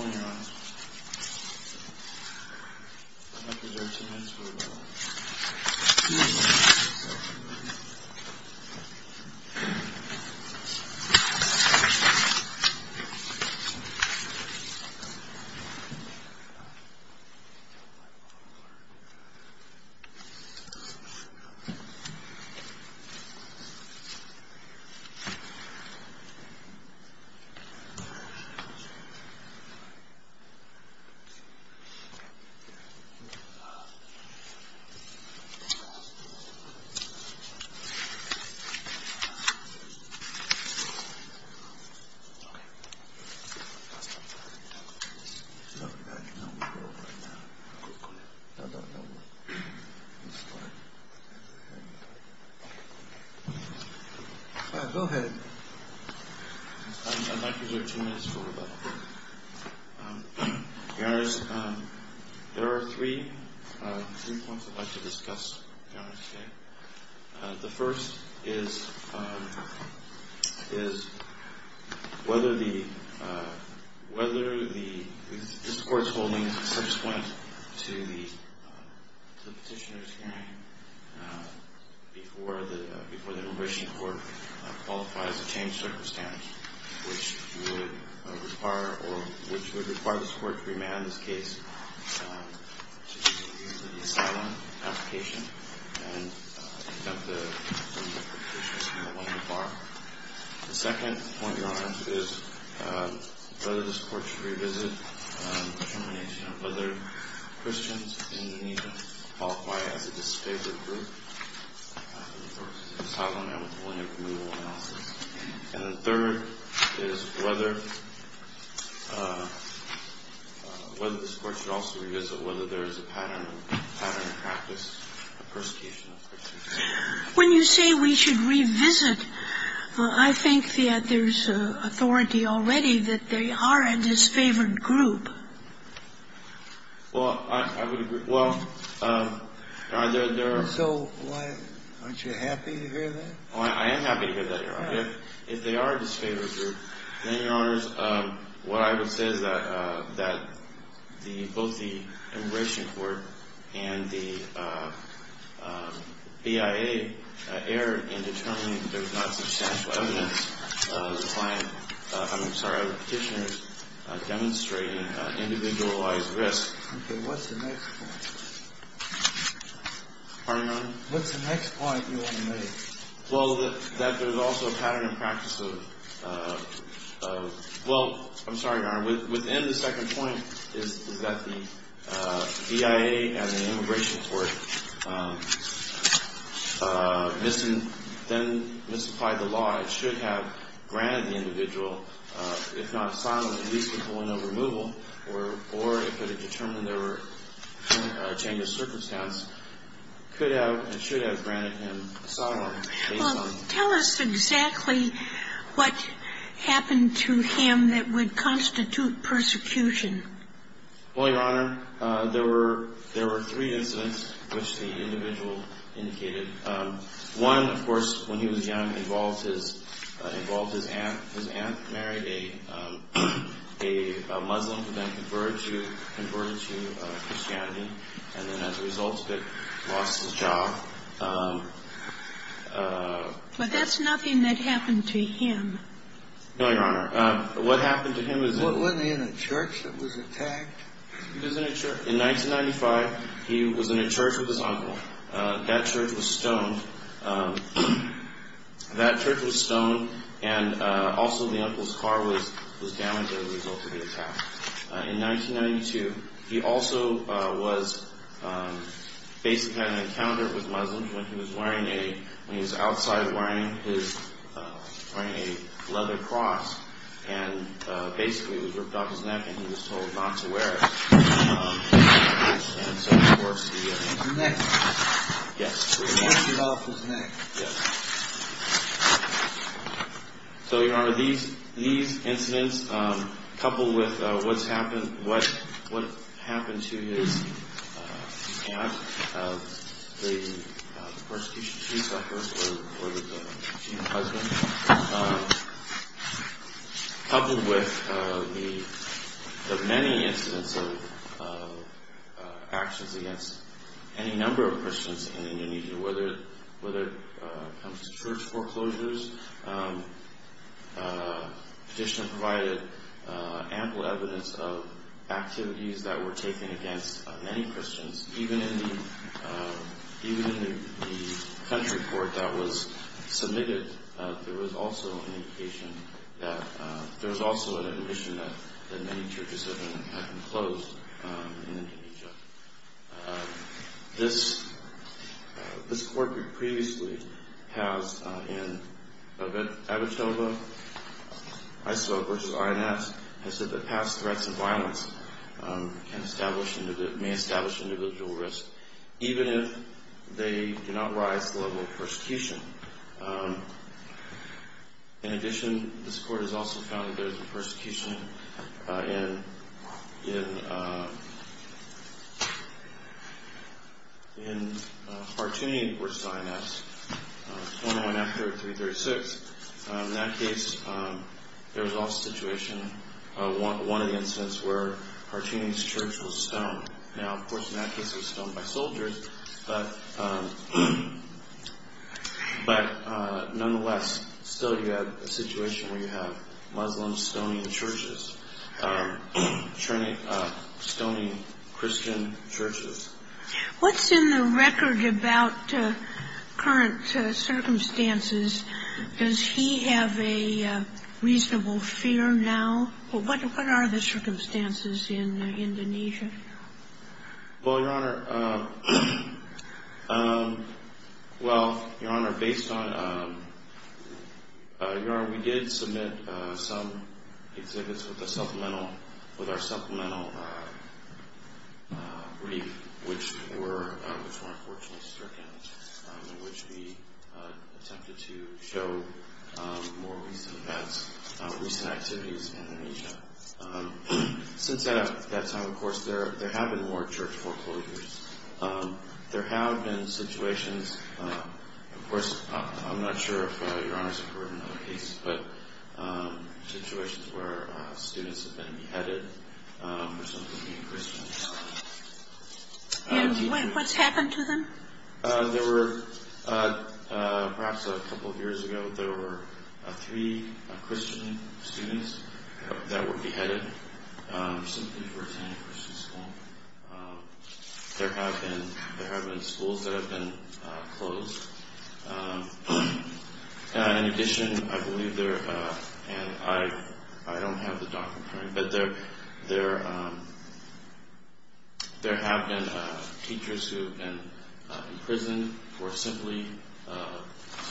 Before we begin, I'd like you to take two minutes for a moment to valor this. Your honors, there are three points I'd like to discuss with you today. The first is whether the court's holding subsequent to the petitioner's hearing before the immigration court qualifies a changed circumstance which would require the court to remand this case to use an asylum application and conduct a formal petition to the one in the bar. The second point, your honors, is whether this court should revisit determination of whether Christians in Indonesia qualify as a disfavored group for asylum and withholding approval analysis. And the third is whether this court should also revisit whether there is a pattern of practice of persecution of Christians. When you say we should revisit, I think that there's authority already that they are a disfavored group. Well, I would agree. Well, there are. So aren't you happy to hear that? Oh, I am happy to hear that, your honor. If they are a disfavored group, then, your honors, what I would say is that both the immigration court and the BIA err in determining there's not substantial evidence of the petitioner demonstrating individualized risk. Okay, what's the next point? Pardon, your honor? What's the next point you want to make? Well, that there's also a pattern in practice of, well, I'm sorry, your honor. Within the second point is that the BIA and the immigration court then mystified the law. It should have granted the individual, if not asylum, at least withholding of removal, or it could have determined there were a change of circumstance, could have and should have granted him asylum. Well, tell us exactly what happened to him that would constitute persecution. Well, your honor, there were three incidents which the individual indicated. One, of course, when he was young, involved his aunt. His aunt married a Muslim who then converted to Christianity, and then as a result of it, lost his job. But that's nothing that happened to him. No, your honor. What happened to him is that he was in a church that was attacked. He was in a church. In 1995, he was in a church with his uncle. That church was stoned. That church was stoned, and also the uncle's car was damaged as a result of the attack. In 1992, he also was basically had an encounter with Muslims when he was wearing a, when he was outside wearing his, wearing a leather cross. And basically, it was ripped off his neck, and he was told not to wear it. And so, of course, the... His neck. Yes. He ripped it off his neck. Yes. So, your honor, these incidents, coupled with what's happened, what happened to his aunt, the persecution she suffered, or her husband, coupled with the many incidents of actions against any number of Christians in Indonesia, whether it comes to church foreclosures, additionally provided ample evidence of activities that were taken against many Christians. Even in the, even in the country report that was submitted, there was also an indication that there was also an admission that many churches have been closed in Indonesia. This, this court previously has in Avitoba, ISIL versus INS, has said that past threats of violence can establish, may establish individual risk, even if they do not rise to the level of persecution. In addition, this court has also found that there's a persecution in, in, in Hartuni versus INS. The one after 336, in that case, there was also a situation, one of the incidents where Hartuni's church was stoned. Now, of course, in that case, it was stoned by soldiers, but, but nonetheless, still you have a situation where you have Muslim stoning churches, stoning Christian churches. What's in the record about current circumstances? Does he have a reasonable fear now? Well, what, what are the circumstances in Indonesia? Well, Your Honor, well, Your Honor, based on, Your Honor, we did submit some exhibits with a supplemental, with our supplemental brief, which were, which were unfortunately stricken, in which we attempted to show more recent events, recent activities in Indonesia. Since that, that time, of course, there, there have been more church foreclosures. There have been situations, of course, I'm not sure if Your Honors have heard in other cases, but situations where students have been beheaded for something to do with Christians. And what's happened to them? There were, perhaps a couple of years ago, there were three Christian students that were beheaded simply for attending Christian school. There have been, there have been schools that have been closed. In addition, I believe there, and I, I don't have the document, but there, there, there have been teachers who have been imprisoned for simply,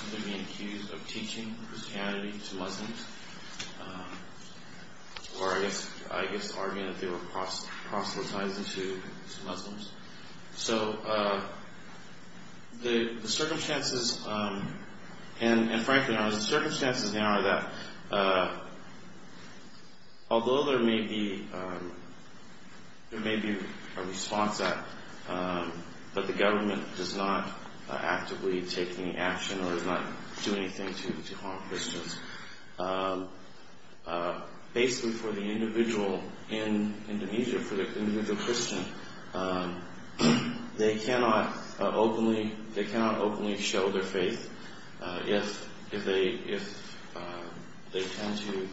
simply being accused of teaching Christianity to Muslims, or I guess, I guess arguing that they were proselytizing to Muslims. So, the circumstances, and frankly, the circumstances now are that although there may be, there may be a response act, but the government does not actively take any action or does not do anything to, to harm Christians. Basically, for the individual in Indonesia, for the individual Christian, they cannot openly, they cannot openly show their faith if, if they, if they tend to,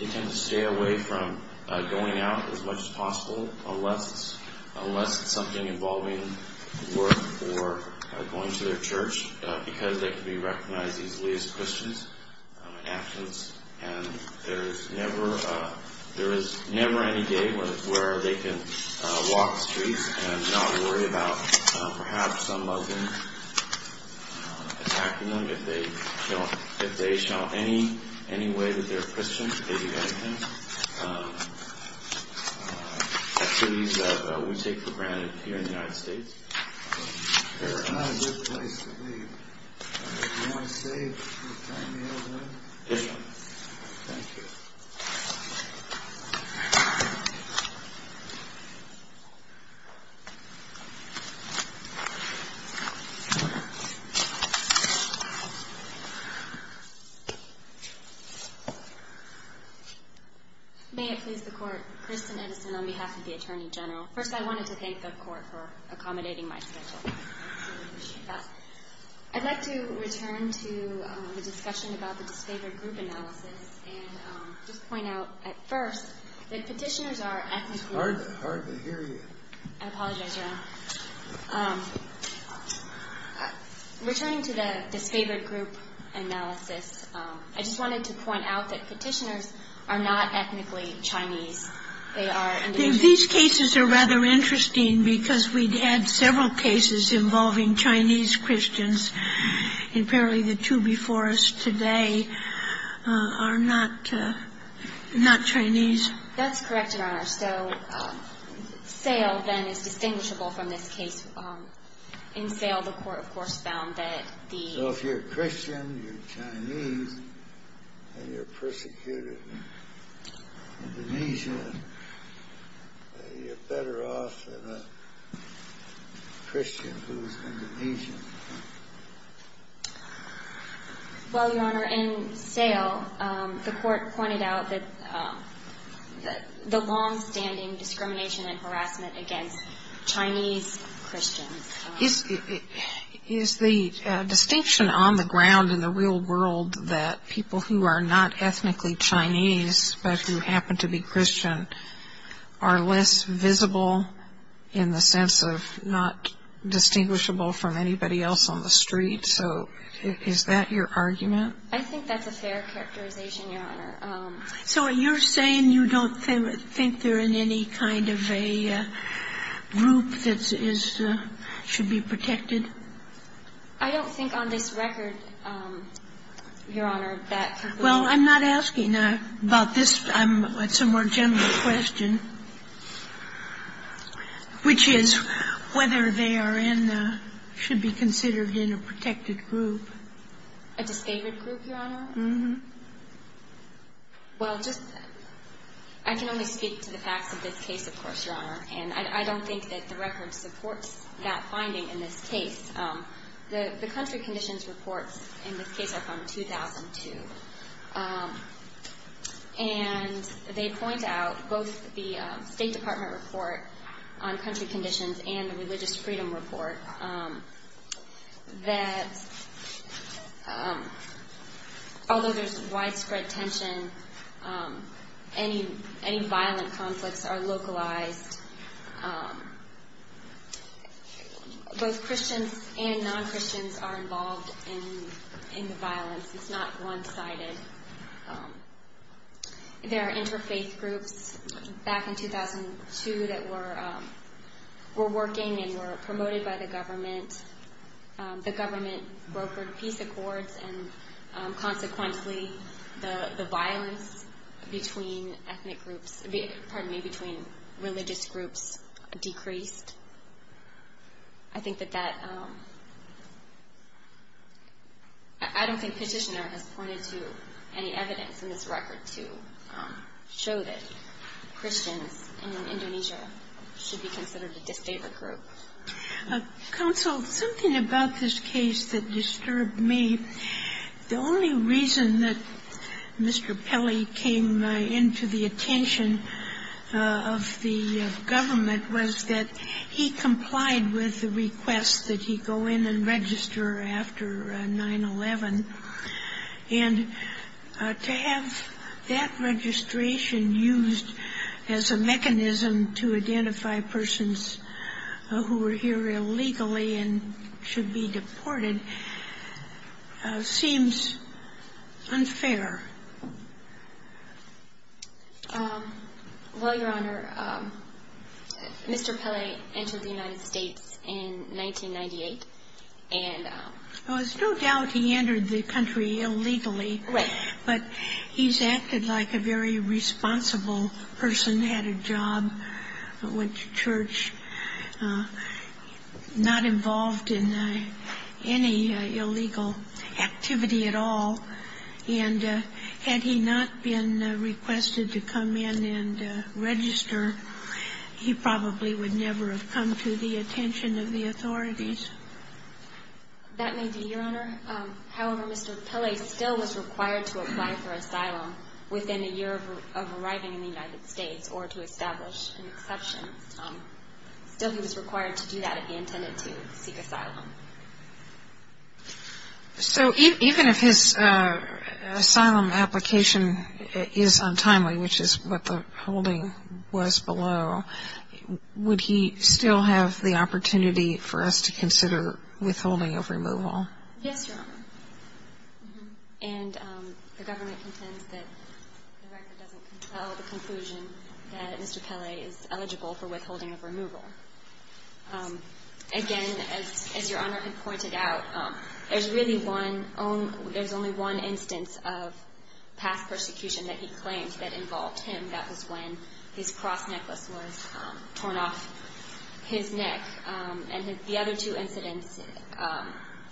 they tend to stay away from going out as much as possible, unless, unless it's something involving work or going to their church, because they can be recognized easily as Christians in actions, and there is never, there is never any day where, where they can walk the streets and not worry about perhaps some Muslims attacking them if they don't, if they show any, any way that they're Christian, if they do anything. Activities that we take for granted here in the United States. There's not a good place to leave. Do you want to say a few final words? Yes. Thank you. May it please the Court, Kristen Edison on behalf of the Attorney General. First, I wanted to thank the Court for accommodating my schedule. I'd like to return to the discussion about the disfavored group analysis and just point out at first that Petitioners are ethnically. It's hard to hear you. I apologize, Your Honor. Returning to the disfavored group analysis, I just wanted to point out that Petitioners are not ethnically Chinese. They are Indonesian. These cases are rather interesting because we've had several cases involving Chinese Christians, and apparently the two before us today are not, not Chinese. That's correct, Your Honor. So, Sale, then, is distinguishable from this case. In Sale, the Court, of course, found that the... you're Chinese and you're persecuted in Indonesia. You're better off than a Christian who's Indonesian. Well, Your Honor, in Sale, the Court pointed out that the longstanding discrimination and harassment against Chinese Christians... Is the distinction on the ground in the real world that people who are not ethnically Chinese but who happen to be Christian are less visible in the sense of not distinguishable from anybody else on the street? So is that your argument? Well, I'm not asking about this. It's a more general question, which is whether they are in, should be considered in a protected group. A disfavored group, Your Honor? Mm-hmm. Well, just, I can only speak to the facts of this case, of course, Your Honor. And I don't think that the record supports that finding in this case. The country conditions reports in this case are from 2002. And they point out, both the State Department report on country conditions and the religious freedom report, that although there's widespread tension, any violent conflicts are localized. Both Christians and non-Christians are involved in the violence. It's not one-sided. There are interfaith groups back in 2002 that were working and were promoted by the government. The government brokered peace accords, and consequently, the violence between ethnic groups, pardon me, between religious groups decreased. I think that that — I don't think Petitioner has pointed to any evidence in this record to show that Christians in Indonesia should be considered a disfavored group. Counsel, something about this case that disturbed me, the only reason that Mr. Pelley was here was because he complied with the request that he go in and register after 9-11. And to have that registration used as a mechanism to identify persons who were here illegally and should be deported seems unfair. Well, Your Honor, Mr. Pelley entered the United States in 1998, and — There's no doubt he entered the country illegally. Right. But he's acted like a very responsible person, had a job, went to church, not involved in any illegal activity at all. And had he not been requested to come in and register, he probably would never have come to the attention of the authorities. That may be, Your Honor. However, Mr. Pelley still was required to apply for asylum within a year of arriving in the United States or to establish an exception. Still he was required to do that if he intended to seek asylum. So even if his asylum application is untimely, which is what the holding was below, would he still have the opportunity for us to consider withholding of removal? Yes, Your Honor. And the government contends that the record doesn't compel the conclusion that Mr. Pelley is eligible for withholding of removal. Again, as Your Honor had pointed out, there's really only one instance of past persecution that he claimed that involved him. That was when his cross necklace was torn off his neck. And the other two incidents,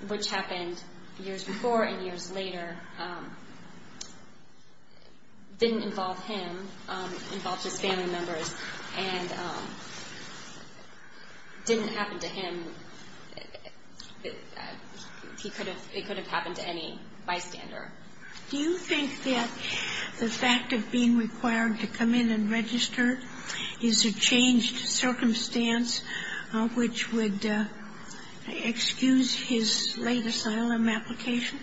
which happened years before and years later, didn't involve him. It involved his family members and didn't happen to him. It could have happened to any bystander. Do you think that the fact of being required to come in and register is a changed circumstance which would excuse his late asylum application?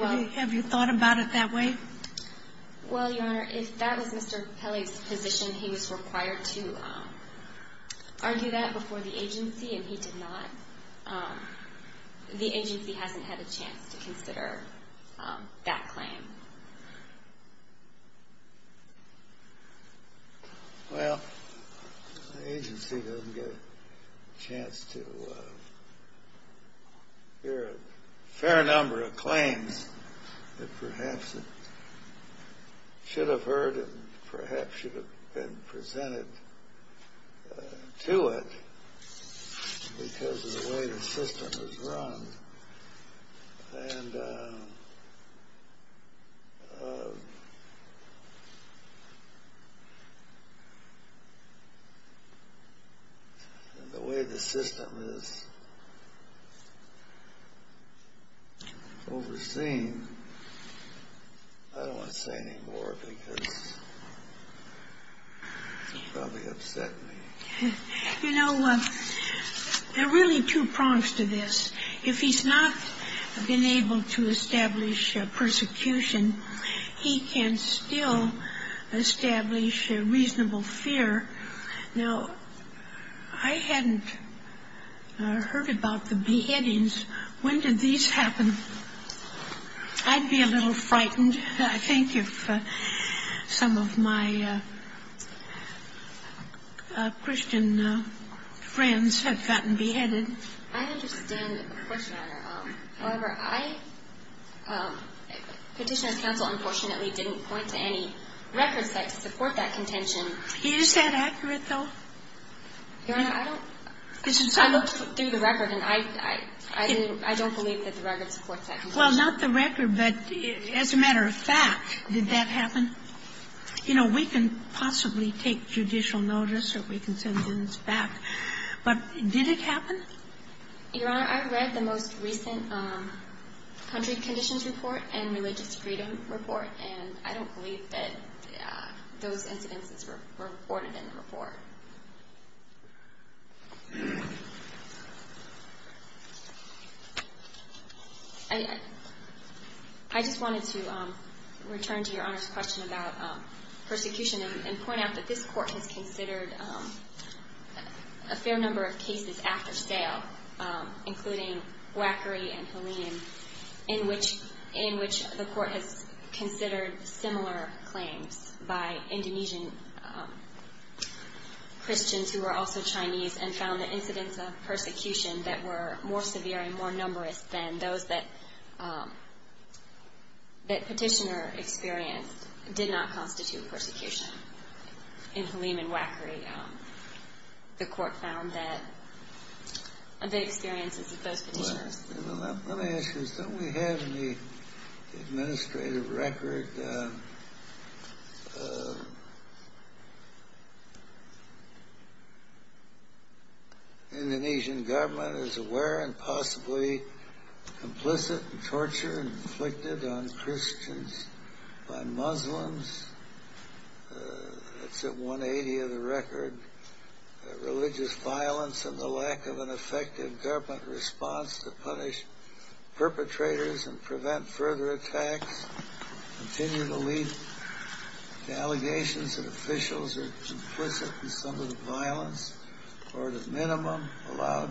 Have you thought about it that way? Well, Your Honor, if that was Mr. Pelley's position, he was required to argue that before the agency, and he did not. The agency hasn't had a chance to consider that claim. Well, the agency doesn't get a chance to hear a fair number of claims that perhaps should have heard and perhaps should have been presented to it because of the way the system is run. And the way the system is overseen, I don't want to say any more because it would probably upset me. You know, there are really two prongs to this. If he's not been able to establish persecution, he can still establish reasonable fear. Now, I hadn't heard about the beheadings. When did these happen? I'd be a little frightened, I think, if some of my Christian friends had gotten beheaded. I understand, of course, Your Honor. However, Petitioner's Counsel unfortunately didn't point to any records that support that contention. Is that accurate, though? Your Honor, I don't – I looked through the record, and I don't believe that the record supports that contention. Well, not the record, but as a matter of fact, did that happen? You know, we can possibly take judicial notice or we can send evidence back, but did it happen? Your Honor, I read the most recent country conditions report and religious freedom report, and I don't believe that those incidences were reported in the report. I just wanted to return to Your Honor's question about persecution and point out that this Court has considered a fair number of cases after sale, including Wackery and Halim, in which the Court has considered similar claims by Indonesian Christians who were also Chinese and found the incidents of persecution that were more severe and more numerous than those that Petitioner experienced did not constitute persecution. In Halim and Wackery, the Court found that the experiences of those Petitioners – Let me ask you, don't we have in the administrative record that the Indonesian government is aware and possibly complicit in torture inflicted on Christians by Muslims? That's at 180 of the record. Religious violence and the lack of an effective government response to punish perpetrators and prevent further attacks continue to lead to allegations that officials are complicit in some of the violence, or at a minimum, allow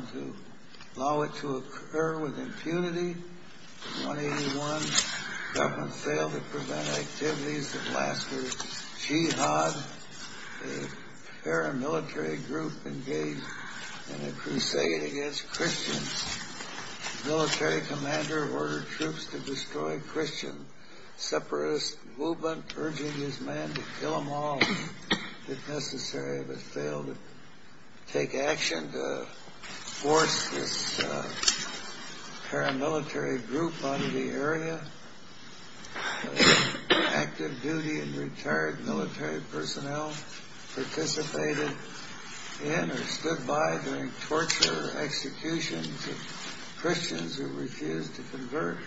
it to occur with impunity. In 181, the government failed to prevent activities that lasted jihad. A paramilitary group engaged in a crusade against Christians. The military commander ordered troops to destroy Christian separatist movement, urging his men to kill them all if necessary, but failed to take action to force this paramilitary group out of the area. Active duty and retired military personnel participated in or stood by during torture executions of Christians who refused to convert.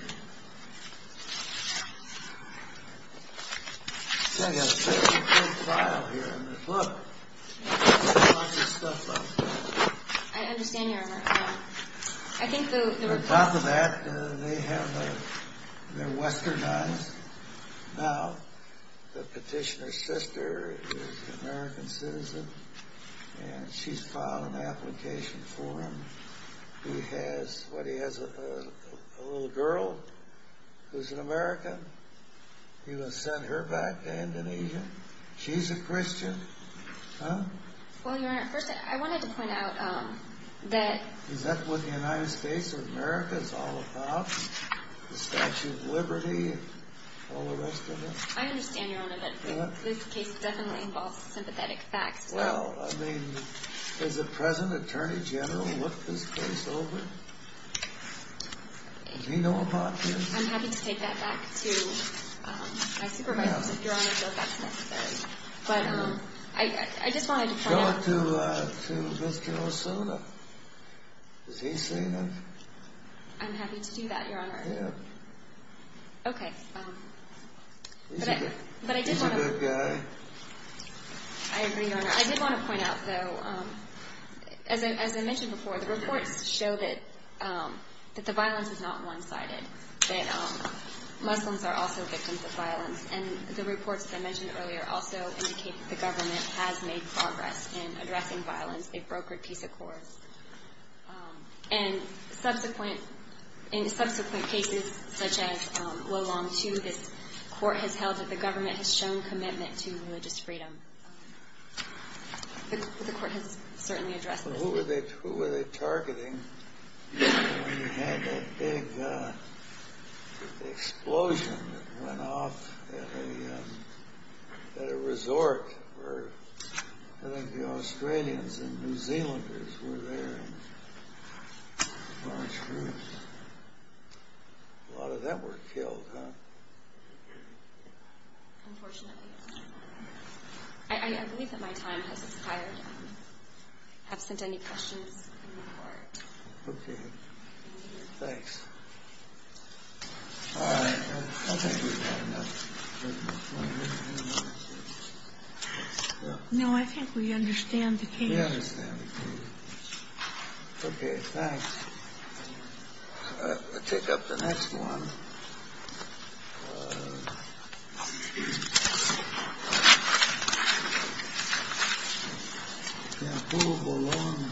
I've got a pretty good file here in this book. There's a bunch of stuff up there. I understand, Your Honor. On top of that, they're westernized. Now, the Petitioner's sister is an American citizen, and she's filed an application for him. He has, what, he has a little girl who's an American? He was sent her back to Indonesia? She's a Christian? Huh? Well, Your Honor, first I wanted to point out that... Is that what the United States of America is all about? The Statue of Liberty and all the rest of it? I understand, Your Honor, that this case definitely involves sympathetic facts. Well, I mean, has the present Attorney General looked this case over? Does he know about this? I'm happy to take that back to my supervisor, Your Honor, if that's necessary. But I just wanted to point out... Show it to Mr. Osuna. Has he seen it? I'm happy to do that, Your Honor. He's a good guy. I agree, Your Honor. I did want to point out, though, as I mentioned before, the reports show that the violence is not one-sided, that Muslims are also victims of violence, and the reports that I mentioned earlier also indicate that the government has made progress in addressing violence, a brokered peace accord. And in subsequent cases, such as Wolong II, this court has held that the government has shown commitment to religious freedom. The court has certainly addressed this. Well, who were they targeting when you had that big explosion that went off at a resort where I think the Australians and New Zealanders were there in large groups? A lot of them were killed, huh? Unfortunately, yes. I believe that my time has expired. I have sent any questions to the court. Okay. Thanks. All right. I think we've had enough. No, I think we understand the case. We understand the case. Okay, thanks. I'll take up the next one. Yeah, Wolong versus Holder.